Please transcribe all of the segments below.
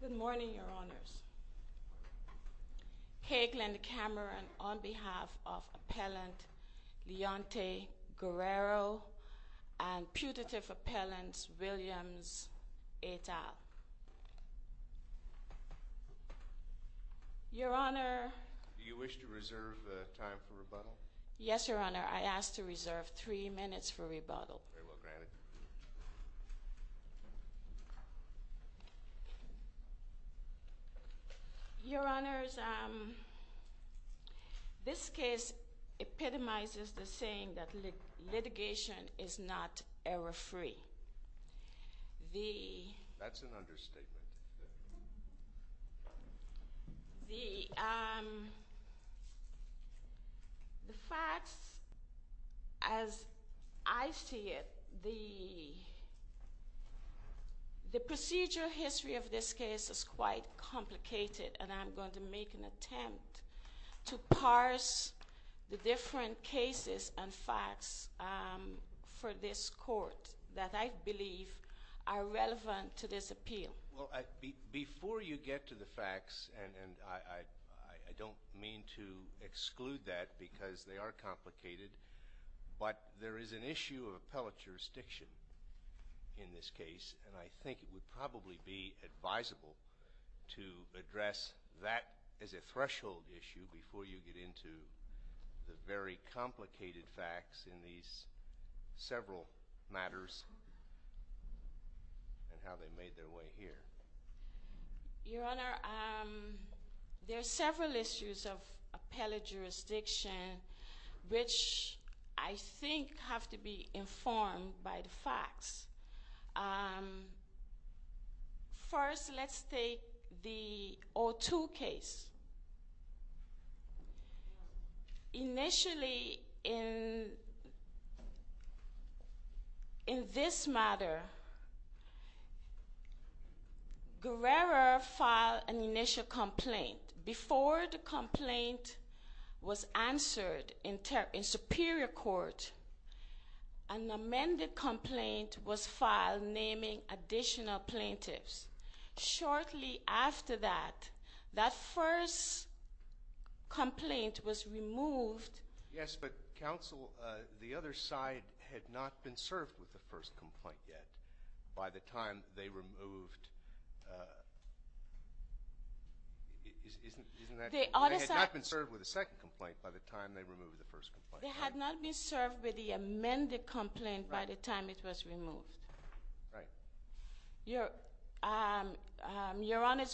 Good morning, Your Honors. Your Honor, I ask to reserve three minutes for rebuttal. Very well granted. Your Honors, this case epitomizes the saying that litigation is not error-free. That's an understatement. The facts as I see it, the procedure history of this case is quite complicated, and I am going to make an attempt to parse the different cases and facts for this court that I believe are relevant to this appeal. Before you get to the facts, and I don't mean to exclude that because they are complicated, but there is an issue of appellate jurisdiction in this case, and I think it would probably be advisable to address that as a threshold issue before you get into the very complicated facts in these several matters and how they made their way here. Your Honor, there are several issues of appellate jurisdiction which I think have to be informed by the facts. First, let's take the O2 case. Initially, in this matter, Guerrero filed an initial complaint. Before the complaint was answered in superior court, an amended complaint was filed naming additional plaintiffs. Shortly after that, that first complaint was removed. Yes, but, counsel, the other side had not been served with the first complaint yet. By the time they removed... Isn't that... The other side... They had not been served with the second complaint by the time they removed the first complaint. They had not been served with the amended complaint by the time it was removed. Right. Your Honor,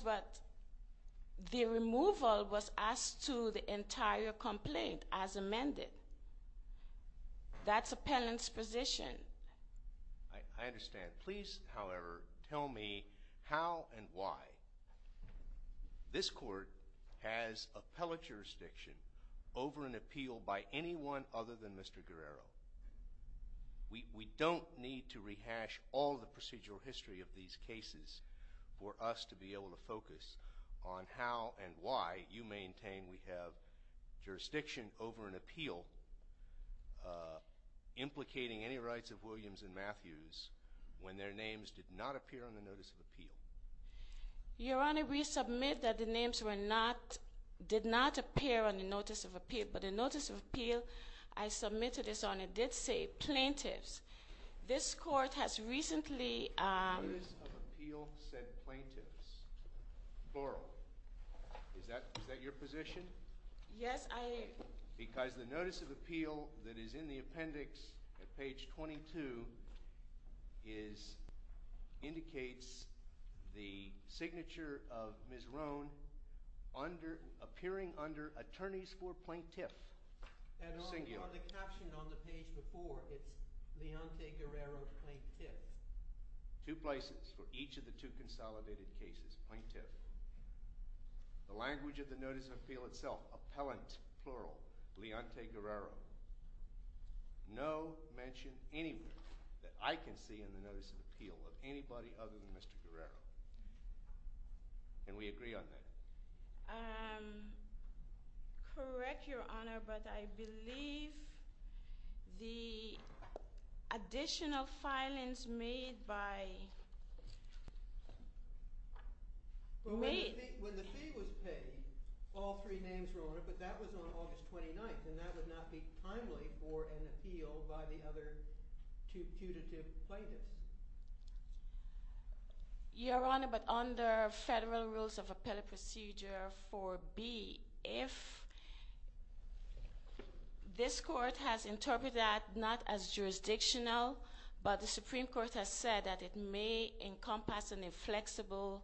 the removal was asked to the entire complaint as amended. That's appellant's position. I understand. Please, however, tell me how and why this court has appellate jurisdiction over an appeal by anyone other than Mr. Guerrero. We don't need to rehash all the procedural history of these cases for us to be able to focus on how and why you maintain we have jurisdiction over an appeal implicating any rights of Williams and Matthews when their names did not appear on the notice of appeal. Your Honor, we submit that the names did not appear on the notice of appeal, but the notice of appeal I submitted, Your Honor, did say plaintiffs. This court has recently... The notice of appeal said plaintiffs. Borrow. Is that your position? Yes, I... Because the notice of appeal that is in the appendix at page 22 indicates the signature of Ms. Roan appearing under attorneys for plaintiff. And on the caption on the page before, it's Leonte Guerrero, plaintiff. Two places for each of the two consolidated cases, plaintiff. The language of the notice of appeal itself, appellant, plural, Leonte Guerrero. No mention anywhere that I can see in the notice of appeal of anybody other than Mr. Guerrero. And we agree on that. Correct, Your Honor, but I believe the additional filings made by... When the fee was paid, all three names were on it, but that was on August 29th, and that would not be timely for an appeal by the other putative plaintiffs. Your Honor, but under federal rules of appellate procedure 4B, if this court has interpreted that not as jurisdictional, but the Supreme Court has said that it may encompass an inflexible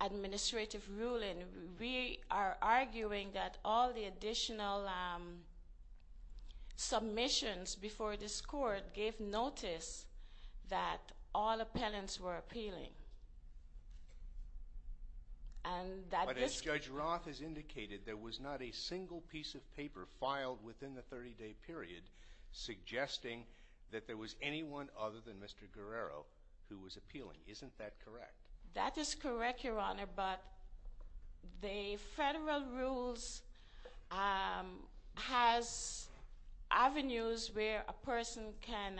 administrative ruling, we are arguing that all the additional submissions before this court gave notice that all appellants were appealing. And that this... But as Judge Roth has indicated, there was not a single piece of paper filed within the 30-day period suggesting that there was anyone other than Mr. Guerrero who was appealing. Isn't that correct? That is correct, Your Honor, but the federal rules has avenues where a person can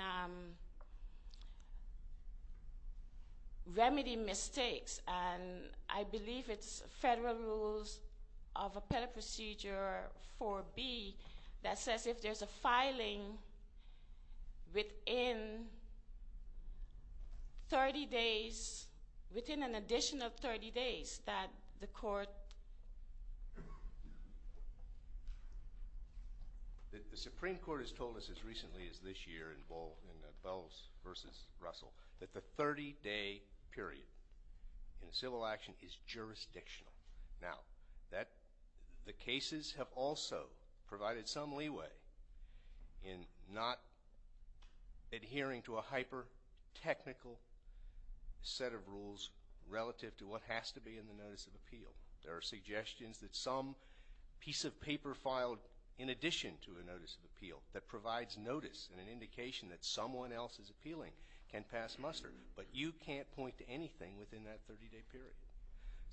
remedy mistakes. And I believe it's federal rules of appellate procedure 4B that says if there's a filing within 30 days, within an additional 30 days, that the court... The Supreme Court has told us as recently as this year in Bells v. Russell that the 30-day period in a civil action is jurisdictional. Now, the cases have also provided some leeway in not adhering to a hyper-technical set of rules relative to what has to be in the notice of appeal. There are suggestions that some piece of paper filed in addition to a notice of appeal that provides notice and an indication that someone else is appealing can pass muster. But you can't point to anything within that 30-day period.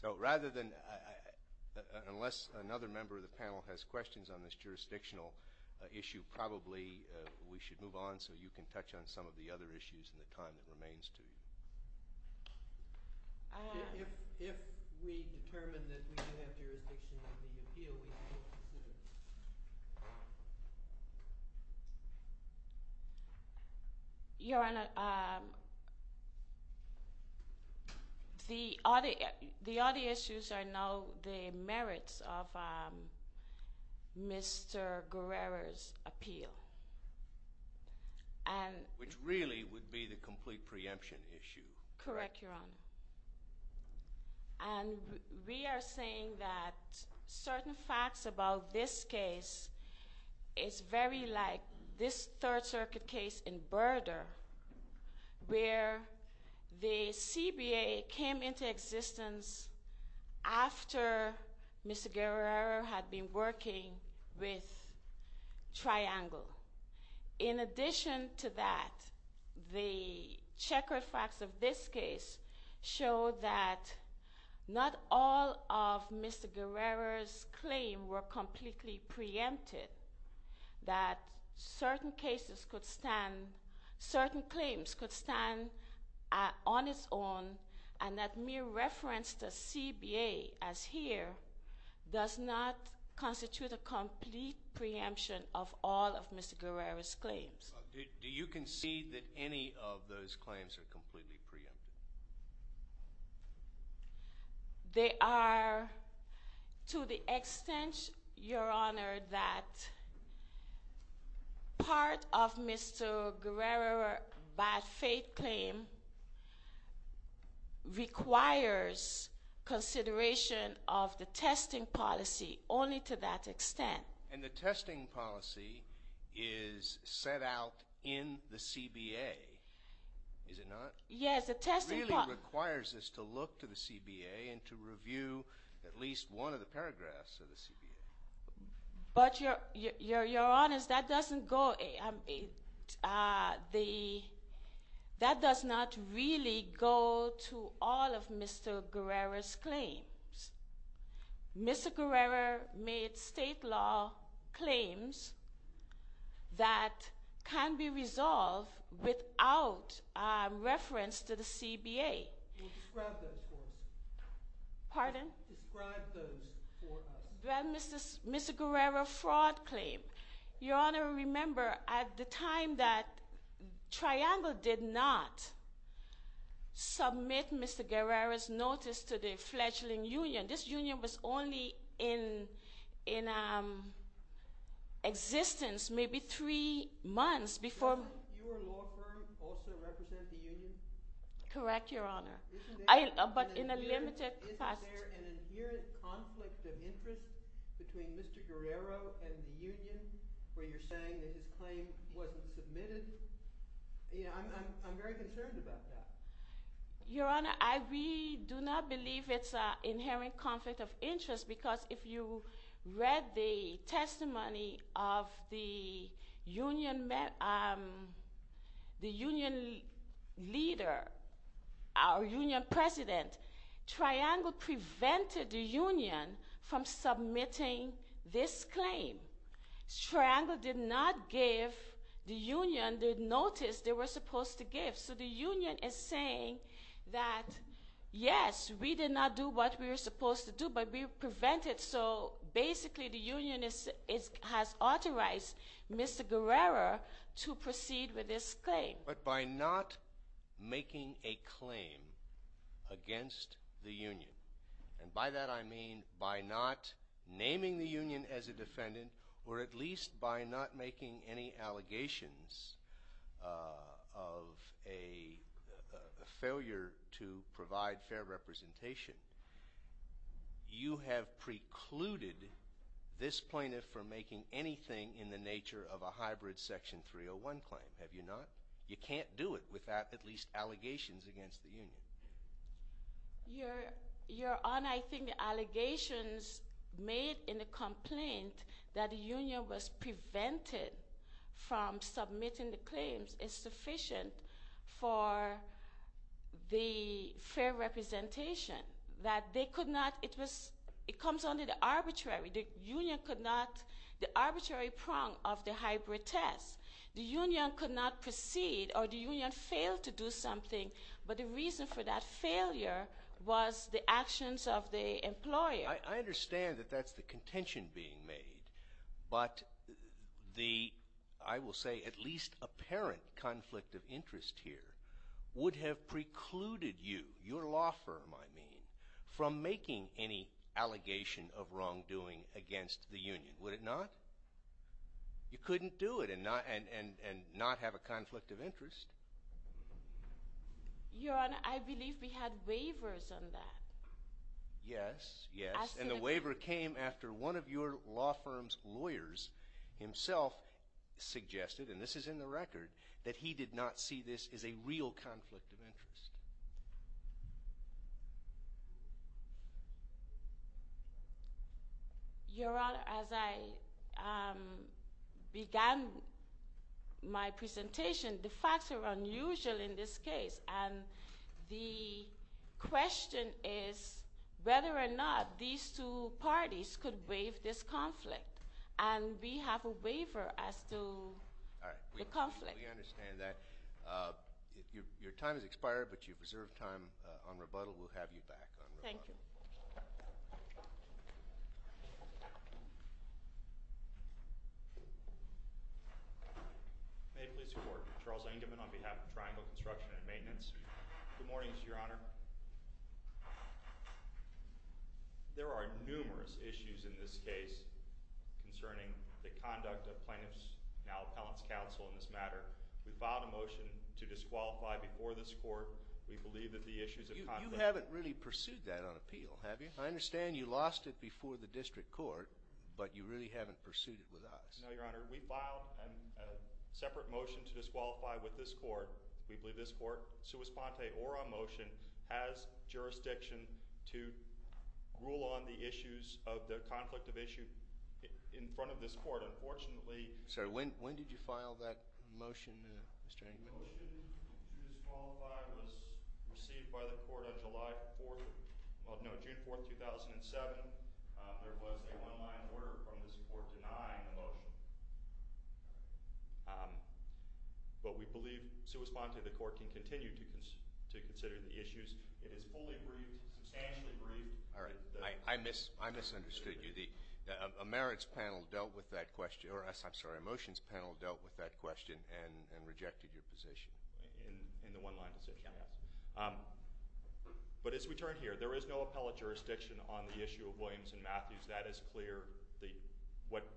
So rather than...unless another member of the panel has questions on this jurisdictional issue, probably we should move on so you can touch on some of the other issues in the time that remains to you. If we determine that we do have jurisdiction in the appeal, we can consider it. Your Honor, the other issues are now the merits of Mr. Guerrero's appeal. Which really would be the complete preemption issue. Correct, Your Honor. And we are saying that certain facts about this case is very like this Third Circuit case in Burdor where the CBA came into existence after Mr. Guerrero had been working with Triangle. In addition to that, the checkered facts of this case show that not all of Mr. Guerrero's claims were completely preempted. That certain cases could stand...certain claims could stand on its own and that mere reference to CBA as here does not constitute a complete preemption of all of Mr. Guerrero's claims. Do you concede that any of those claims are completely preempted? They are to the extent, Your Honor, that part of Mr. Guerrero's bad faith claim requires consideration of the testing policy only to that extent. And the testing policy is set out in the CBA, is it not? Yes, the testing policy... It really requires us to look to the CBA and to review at least one of the paragraphs of the CBA. But Your Honor, that doesn't go...that does not really go to all of Mr. Guerrero's claims. Mr. Guerrero made state law claims that can be resolved without reference to the CBA. Describe those for us. Pardon? Describe those for us. Well, Mr. Guerrero's fraud claim. Your Honor, remember at the time that Triangle did not submit Mr. Guerrero's notice to the fledgling union, this union was only in existence maybe three months before... Doesn't your law firm also represent the union? Correct, Your Honor. Isn't there... But in a limited... Isn't there an inherent conflict of interest between Mr. Guerrero and the union where you're saying that his claim wasn't submitted? I'm very concerned about that. Your Honor, we do not believe it's an inherent conflict of interest Triangle prevented the union from submitting this claim. Triangle did not give the union the notice they were supposed to give. So the union is saying that, yes, we did not do what we were supposed to do, but we prevented. So basically the union has authorized Mr. Guerrero to proceed with this claim. But by not making a claim against the union, and by that I mean by not naming the union as a defendant or at least by not making any allegations of a failure to provide fair representation, you have precluded this plaintiff from making anything in the nature of a hybrid Section 301 claim, have you not? You can't do it without at least allegations against the union. Your Honor, I think the allegations made in the complaint that the union was prevented from submitting the claims is sufficient for the fair representation that they could not... It was... It comes under the arbitrary... The union could not... The arbitrary prong of the hybrid test. The union could not proceed or the union failed to do something. But the reason for that failure was the actions of the employer. I understand that that's the contention being made. But the, I will say, at least apparent conflict of interest here would have precluded you, your law firm I mean, from making any allegation of wrongdoing against the union, would it not? You couldn't do it and not have a conflict of interest. Your Honor, I believe we had waivers on that. Yes, yes. And the waiver came after one of your law firm's lawyers himself suggested, and this is in the record, that he did not see this as a real conflict of interest. Your Honor, as I began my presentation, the facts are unusual in this case. And the question is whether or not these two parties could waive this conflict. And we have a waiver as to the conflict. We understand that. Your time has expired, but you've reserved time on rebuttal. We'll have you back on rebuttal. Thank you. May it please the Court. Charles Engelman on behalf of Triangle Construction and Maintenance. Good morning, Your Honor. There are numerous issues in this case concerning the conduct of plaintiffs, now appellants, counsel in this matter. We filed a motion to disqualify before this Court. We believe that the issues of conflict... You haven't really pursued that on appeal, have you? I understand you lost it before the district court, but you really haven't pursued it with us. No, Your Honor. We filed a separate motion to disqualify with this Court. We believe this Court, sua sponte or on motion, has jurisdiction to rule on the issues of the conflict of issue in front of this Court. Unfortunately... Sir, when did you file that motion, Mr. Engelman? The motion to disqualify was received by the Court on July 4th. Well, no, June 4th, 2007. There was a one-line order from this Court denying the motion. But we believe, sua sponte, the Court can continue to consider the issues. It is fully briefed, substantially briefed. All right. I misunderstood you. A merits panel dealt with that question. I'm sorry, a motions panel dealt with that question and rejected your position. In the one-line decision, yes. But as we turn here, there is no appellate jurisdiction on the issue of Williams and Matthews. That is clear. What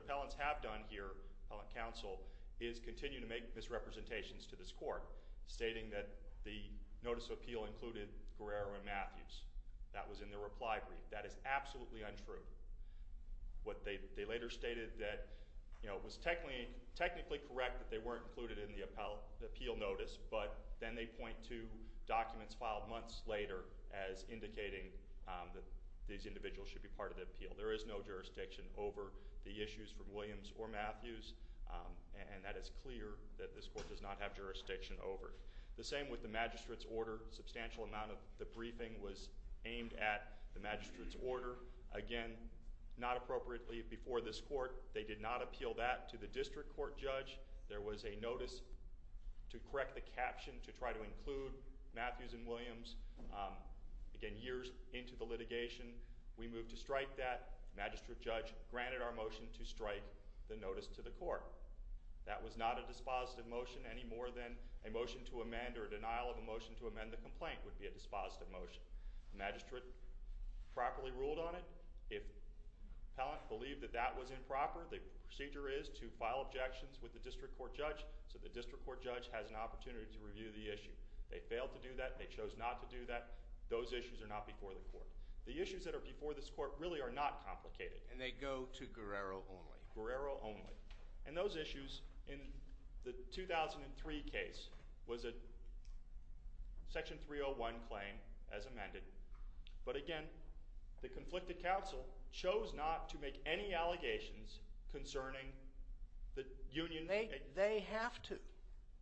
appellants have done here, appellate counsel, is continue to make misrepresentations to this Court, stating that the notice of appeal included Guerrero and Matthews. That was in the reply brief. That is absolutely untrue. They later stated that it was technically correct that they weren't included in the appeal notice, but then they point to documents filed months later as indicating that these individuals should be part of the appeal. There is no jurisdiction over the issues from Williams or Matthews, and that is clear that this Court does not have jurisdiction over it. The same with the magistrate's order. Substantial amount of the briefing was aimed at the magistrate's order. Again, not appropriately before this Court, they did not appeal that to the district court judge. There was a notice to correct the caption to try to include Matthews and Williams. Again, years into the litigation, we moved to strike that. The magistrate judge granted our motion to strike the notice to the court. That was not a dispositive motion any more than a motion to amend or a denial of a motion to amend the complaint would be a dispositive motion. The magistrate properly ruled on it. If the appellant believed that that was improper, the procedure is to file objections with the district court judge so the district court judge has an opportunity to review the issue. They failed to do that. They chose not to do that. Those issues are not before the Court. The issues that are before this Court really are not complicated. And they go to Guerrero only? Guerrero only. And those issues in the 2003 case was a Section 301 claim as amended. But again, the conflicted counsel chose not to make any allegations concerning the union. They have to.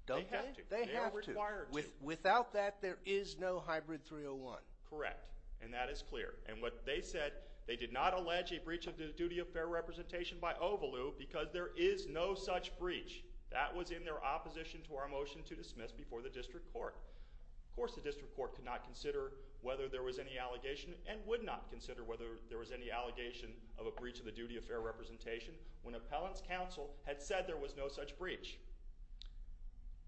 They have to. They are required to. Without that, there is no hybrid 301. Correct. And that is clear. And what they said, they did not allege a breach of the duty of fair representation by Ovalu because there is no such breach. That was in their opposition to our motion to dismiss before the district court. Of course, the district court could not consider whether there was any allegation and would not consider whether there was any allegation of a breach of the duty of fair representation when appellant's counsel had said there was no such breach.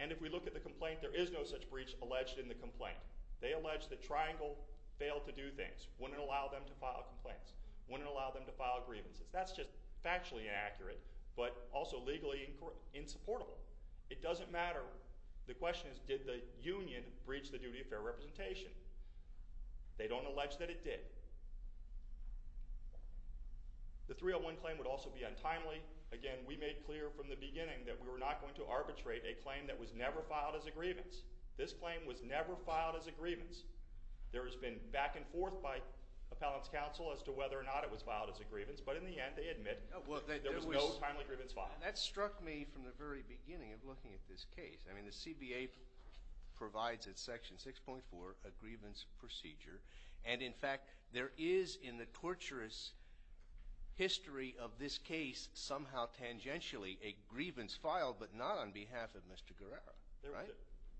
And if we look at the complaint, there is no such breach alleged in the complaint. They allege that Triangle failed to do things, wouldn't allow them to file complaints, wouldn't allow them to file grievances. That's just factually inaccurate but also legally insupportable. It doesn't matter. The question is, did the union breach the duty of fair representation? They don't allege that it did. The 301 claim would also be untimely. Again, we made clear from the beginning that we were not going to arbitrate a claim that was never filed as a grievance. This claim was never filed as a grievance. There has been back and forth by appellant's counsel as to whether or not it was filed as a grievance, but in the end they admit there was no timely grievance filed. That struck me from the very beginning of looking at this case. I mean the CBA provides at Section 6.4 a grievance procedure, and in fact there is in the torturous history of this case somehow tangentially a grievance filed but not on behalf of Mr. Guerrero, right?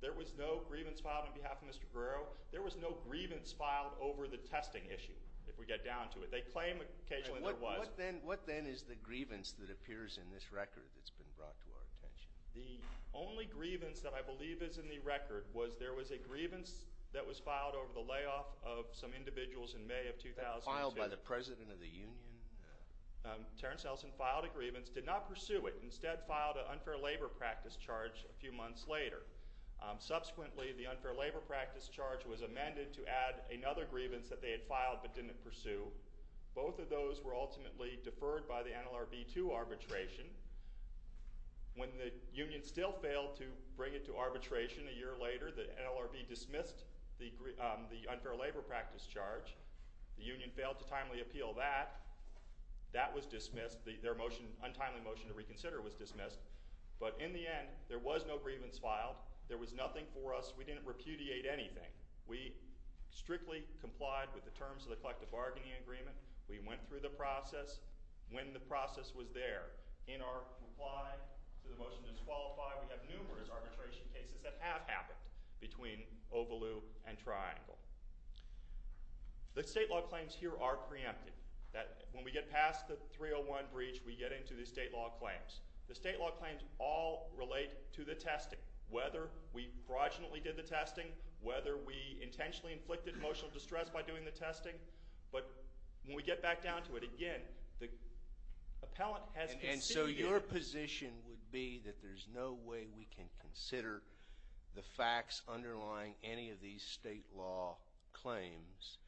There was no grievance filed on behalf of Mr. Guerrero. There was no grievance filed over the testing issue, if we get down to it. They claim occasionally there was. What then is the grievance that appears in this record that's been brought to our attention? The only grievance that I believe is in the record was there was a grievance that was filed over the layoff of some individuals in May of 2002. Filed by the president of the union? Terrence Ellison filed a grievance, did not pursue it. Instead, filed an unfair labor practice charge a few months later. Subsequently, the unfair labor practice charge was amended to add another grievance that they had filed but didn't pursue. Both of those were ultimately deferred by the NLRB to arbitration. When the union still failed to bring it to arbitration a year later, the NLRB dismissed the unfair labor practice charge. The union failed to timely appeal that. That was dismissed. Their motion, untimely motion to reconsider was dismissed. But in the end, there was no grievance filed. There was nothing for us. We didn't repudiate anything. We strictly complied with the terms of the collective bargaining agreement. We went through the process. When the process was there, in our reply to the motion to disqualify, we have numerous arbitration cases that have happened between Ovaloo and Triangle. The state law claims here are preempted. When we get past the 301 breach, we get into the state law claims. The state law claims all relate to the testing, whether we fraudulently did the testing, whether we intentionally inflicted emotional distress by doing the testing. But when we get back down to it again, the appellant has considered. And so your position would be that there's no way we can consider the facts underlying any of these state law claims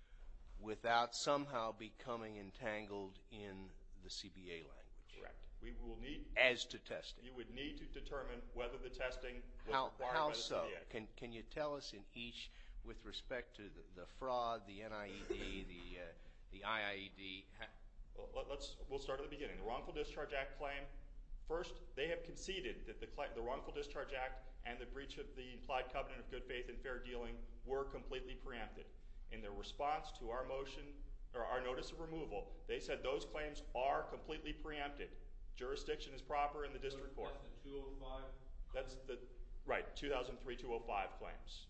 without somehow becoming entangled in the CBA language. Correct. As to testing. You would need to determine whether the testing was acquired by the CBA. Can you tell us in each with respect to the fraud, the NIED, the IIED? We'll start at the beginning. The Wrongful Discharge Act claim. First, they have conceded that the Wrongful Discharge Act and the breach of the implied covenant of good faith and fair dealing were completely preempted. In their response to our motion or our notice of removal, they said those claims are completely preempted. Jurisdiction is proper in the district court. 2003-205? Right. 2003-205 claims.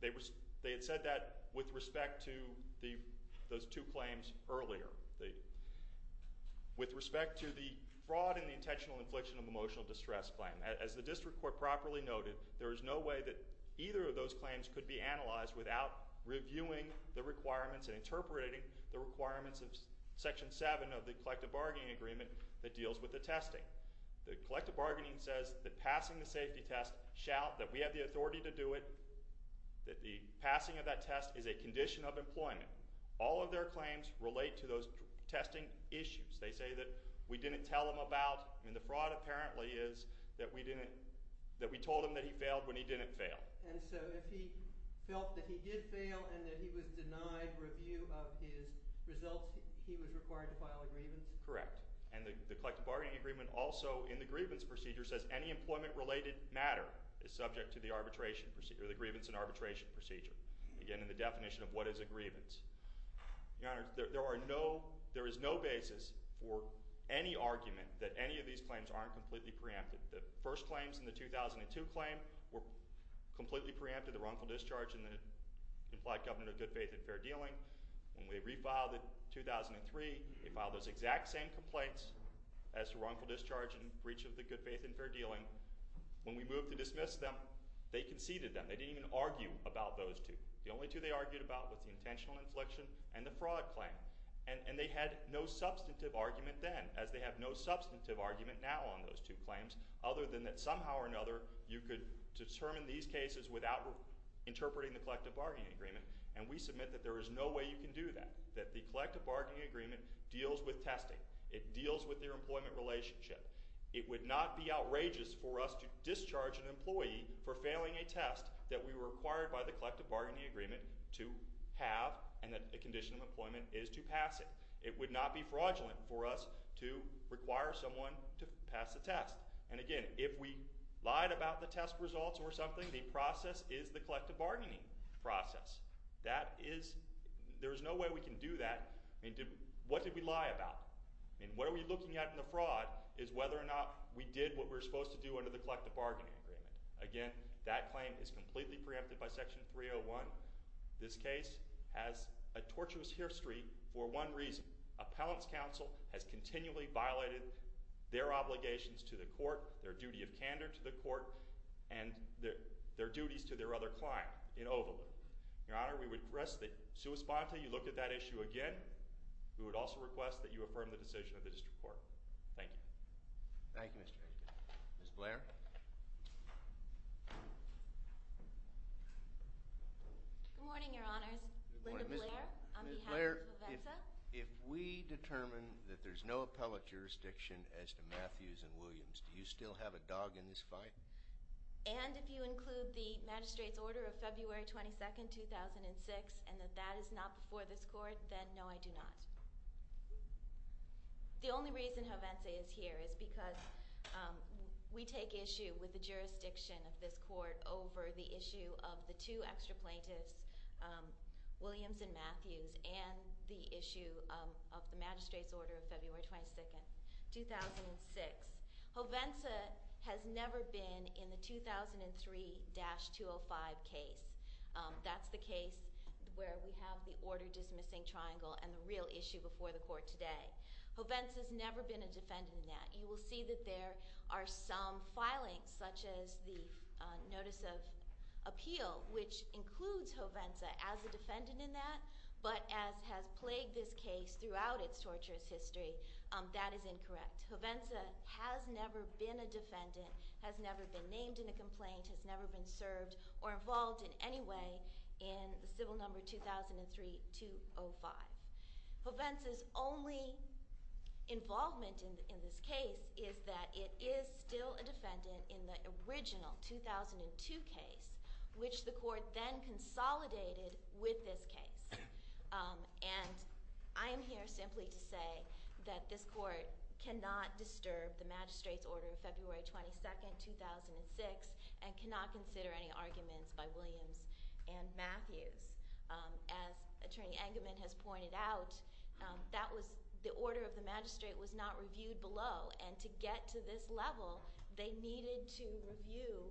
They had said that with respect to those two claims earlier. With respect to the fraud and the intentional infliction of emotional distress claim, as the district court properly noted, there is no way that either of those claims could be analyzed without reviewing the requirements and interpreting the requirements of Section 7 of the collective bargaining agreement that deals with the testing. The collective bargaining says that passing the safety test, shout that we have the authority to do it, that the passing of that test is a condition of employment. All of their claims relate to those testing issues. They say that we didn't tell them about. The fraud apparently is that we told them that he failed when he didn't fail. And so if he felt that he did fail and that he was denied review of his results, he was required to file a grievance? Correct. And the collective bargaining agreement also in the grievance procedure says any employment-related matter is subject to the arbitration procedure, the grievance and arbitration procedure. Again, in the definition of what is a grievance. Your Honor, there is no basis for any argument that any of these claims aren't completely preempted. The first claims in the 2002 claim were completely preempted, the wrongful discharge and the implied government of good faith and fair dealing. When we refiled it in 2003, they filed those exact same complaints as to wrongful discharge and breach of the good faith and fair dealing. When we moved to dismiss them, they conceded them. They didn't even argue about those two. The only two they argued about was the intentional infliction and the fraud claim. And they had no substantive argument then, as they have no substantive argument now on those two claims, other than that somehow or another you could determine these cases without interpreting the collective bargaining agreement. And we submit that there is no way you can do that, that the collective bargaining agreement deals with testing. It deals with their employment relationship. It would not be outrageous for us to discharge an employee for failing a test that we were required by the collective bargaining agreement to have and that a condition of employment is to pass it. It would not be fraudulent for us to require someone to pass the test. And again, if we lied about the test results or something, the process is the collective bargaining process. That is – there is no way we can do that. I mean, what did we lie about? I mean, what are we looking at in the fraud is whether or not we did what we were supposed to do under the collective bargaining agreement. Again, that claim is completely preempted by Section 301. This case has a tortuous history for one reason. Appellant's counsel has continually violated their obligations to the court, their duty of candor to the court, and their duties to their other client in Overland. Your Honor, we would request that, sui sponte, you look at that issue again. We would also request that you affirm the decision of the district court. Thank you. Thank you, Mr. Aiken. Ms. Blair? Good morning, Your Honors. Linda Blair on behalf of Hovenza. Ms. Blair, if we determine that there's no appellate jurisdiction as to Matthews and Williams, do you still have a dog in this fight? And if you include the magistrate's order of February 22, 2006, and that that is not before this court, then no, I do not. The only reason Hovenza is here is because we take issue with the jurisdiction of this court over the issue of the two extra plaintiffs, Williams and Matthews, and the issue of the magistrate's order of February 22, 2006. Hovenza has never been in the 2003-205 case. That's the case where we have the order-dismissing triangle and the real issue before the court today. Hovenza has never been a defendant in that. You will see that there are some filings, such as the notice of appeal, which includes Hovenza as a defendant in that, but has plagued this case throughout its torturous history. That is incorrect. Hovenza has never been a defendant, has never been named in a complaint, has never been served or involved in any way in the civil number 2003-205. Hovenza's only involvement in this case is that it is still a defendant in the original 2002 case, which the court then consolidated with this case. And I am here simply to say that this court cannot disturb the magistrate's order of February 22, 2006 and cannot consider any arguments by Williams and Matthews. As Attorney Engelman has pointed out, the order of the magistrate was not reviewed below, and to get to this level, they needed to review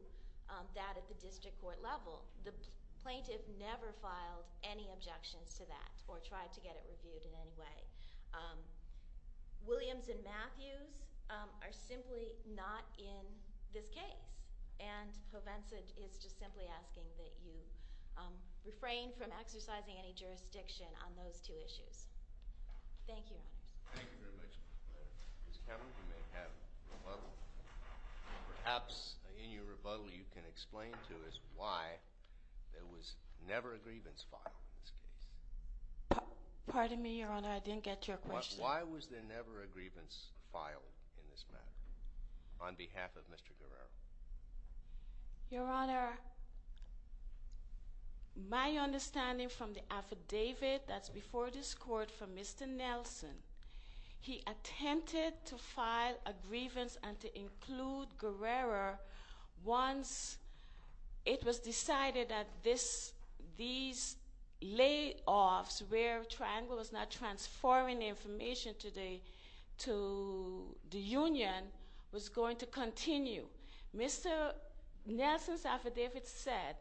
that at the district court level. The plaintiff never filed any objections to that or tried to get it reviewed in any way. Williams and Matthews are simply not in this case, and Hovenza is just simply asking that you refrain from exercising any jurisdiction on those two issues. Thank you, Your Honors. Thank you very much, Ms. Cameron. Ms. Cameron, you may have a rebuttal. Perhaps in your rebuttal you can explain to us why there was never a grievance filed in this case. Pardon me, Your Honor, I didn't get your question. Why was there never a grievance filed in this matter on behalf of Mr. Guerrero? Your Honor, my understanding from the affidavit that's before this court from Mr. Nelson, he attempted to file a grievance and to include Guerrero once it was decided that these layoffs where Triangle was not transforming the information today to the union was going to continue. Mr. Nelson's affidavit said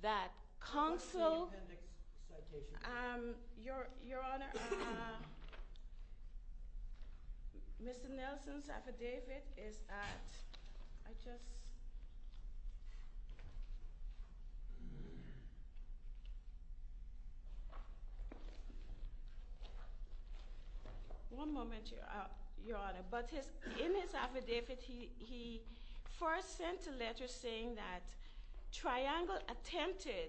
that counsel- What's the appendix citation? Your Honor, Mr. Nelson's affidavit is that- I just- One moment, Your Honor. But in his affidavit he first sent a letter saying that Triangle attempted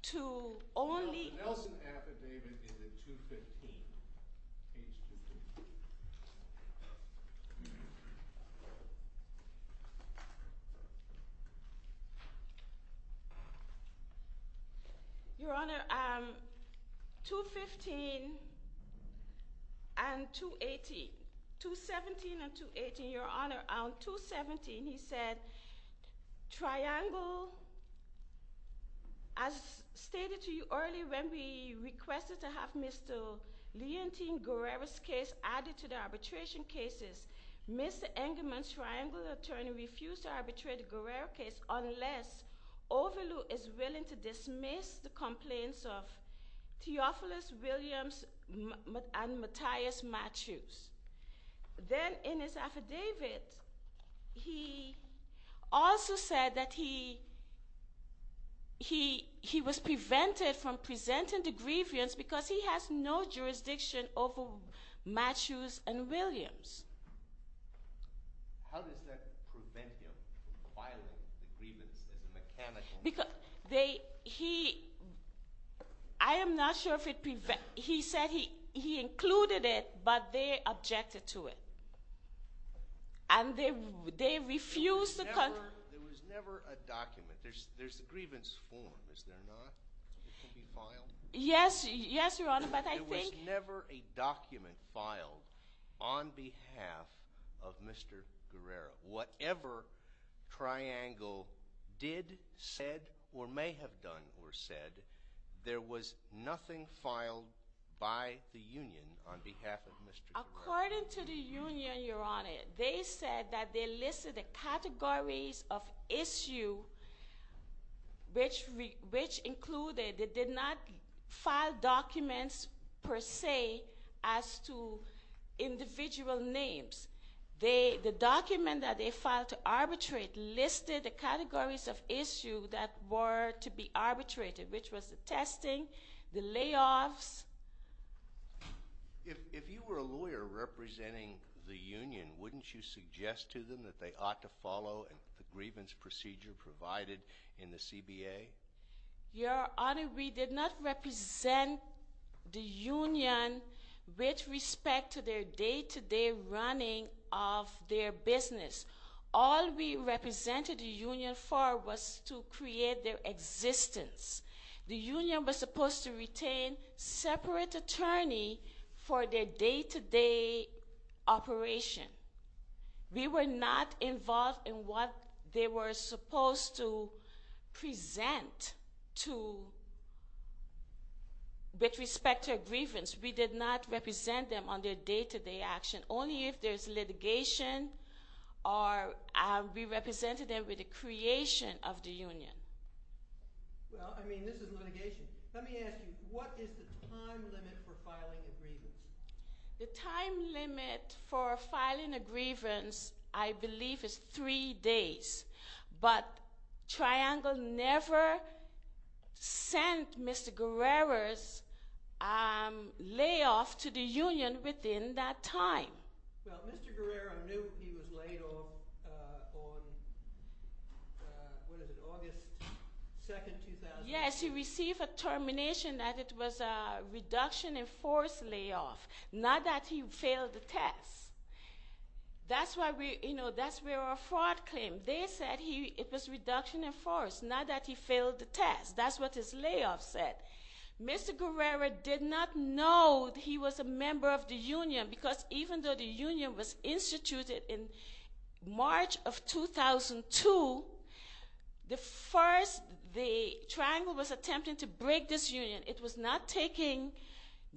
to only- Mr. Nelson's affidavit is in 215. Your Honor, 215 and 218- 217 and 218, Your Honor. On 217 he said, Triangle, as stated to you earlier when we requested to have Mr. Leontine Guerrero's case added to the arbitration cases, Mr. Engelman's Triangle attorney refused to arbitrate the Guerrero case unless Overloo is willing to dismiss the complaints of Theophilus Williams and Matthias Matthews. Then in his affidavit he also said that he was prevented from presenting the grievance because he has no jurisdiction over Matthews and Williams. How does that prevent him from filing the grievance as a mechanical- He, I am not sure if it prevents- He said he included it, but they objected to it. And they refused to- There was never a document. There's a grievance form, is there not? It can be filed? Yes, Your Honor, but I think- There was never a document filed on behalf of Mr. Guerrero. Whatever Triangle did, said, or may have done or said, there was nothing filed by the union on behalf of Mr. Guerrero. According to the union, Your Honor, they said that they listed the categories of issue, which included they did not file documents per se as to individual names. The document that they filed to arbitrate listed the categories of issue that were to be arbitrated, which was the testing, the layoffs. If you were a lawyer representing the union, wouldn't you suggest to them that they ought to follow the grievance procedure provided in the CBA? Your Honor, we did not represent the union with respect to their day-to-day running of their business. All we represented the union for was to create their existence. The union was supposed to retain separate attorney for their day-to-day operation. We were not involved in what they were supposed to present with respect to a grievance. We did not represent them on their day-to-day action. Only if there's litigation, we represented them with the creation of the union. Well, I mean, this is litigation. Let me ask you, what is the time limit for filing a grievance? The time limit for filing a grievance, I believe, is three days. But Triangle never sent Mr. Guerrero's layoff to the union within that time. Well, Mr. Guerrero knew he was laid off on, what is it, August 2, 2000? Yes, he received a termination that it was a reduction in force layoff, not that he failed the test. That's where our fraud came. They said it was reduction in force, not that he failed the test. That's what his layoff said. Mr. Guerrero did not know he was a member of the union because even though the union was instituted in March of 2002, the first, the Triangle was attempting to break this union. It was not taking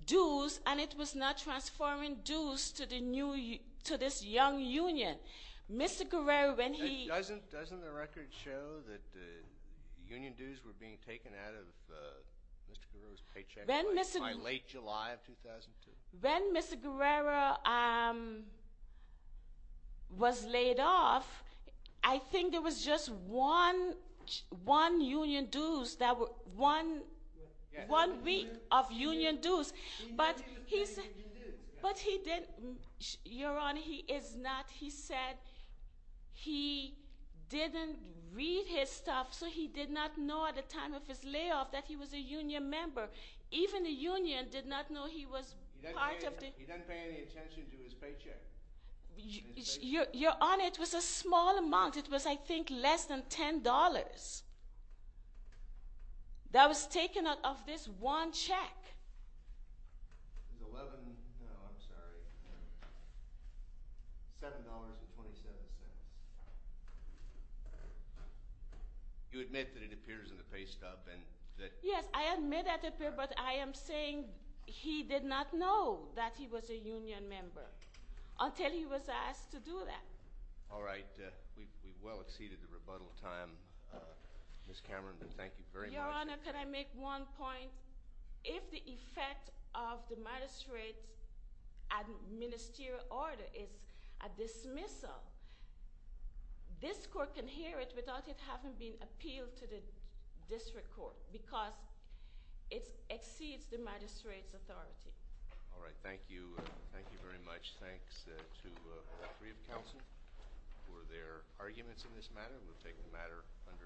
dues, and it was not transforming dues to this young union. Mr. Guerrero, when he — Doesn't the record show that union dues were being taken out of Mr. Guerrero's paycheck by late July of 2002? When Mr. Guerrero was laid off, I think there was just one union dues that were, one week of union dues. But he didn't, Your Honor, he is not, he said he didn't read his stuff, so he did not know at the time of his layoff that he was a union member. Even the union did not know he was part of the — He doesn't pay any attention to his paycheck. Your Honor, it was a small amount. It was, I think, less than $10 that was taken out of this one check. It was $11, no, I'm sorry, $7.27. You admit that it appears in the pay stuff and that — Yes, I admit that it appears, but I am saying he did not know that he was a union member until he was asked to do that. All right, we've well exceeded the rebuttal time. Ms. Cameron, thank you very much. Your Honor, can I make one point? If the effect of the magistrate's administerial order is a dismissal, this court can hear it without it having been appealed to the district court because it exceeds the magistrate's authority. All right, thank you. Thank you very much. Thanks to all three of counsel for their arguments in this matter. We'll take the matter under advisory.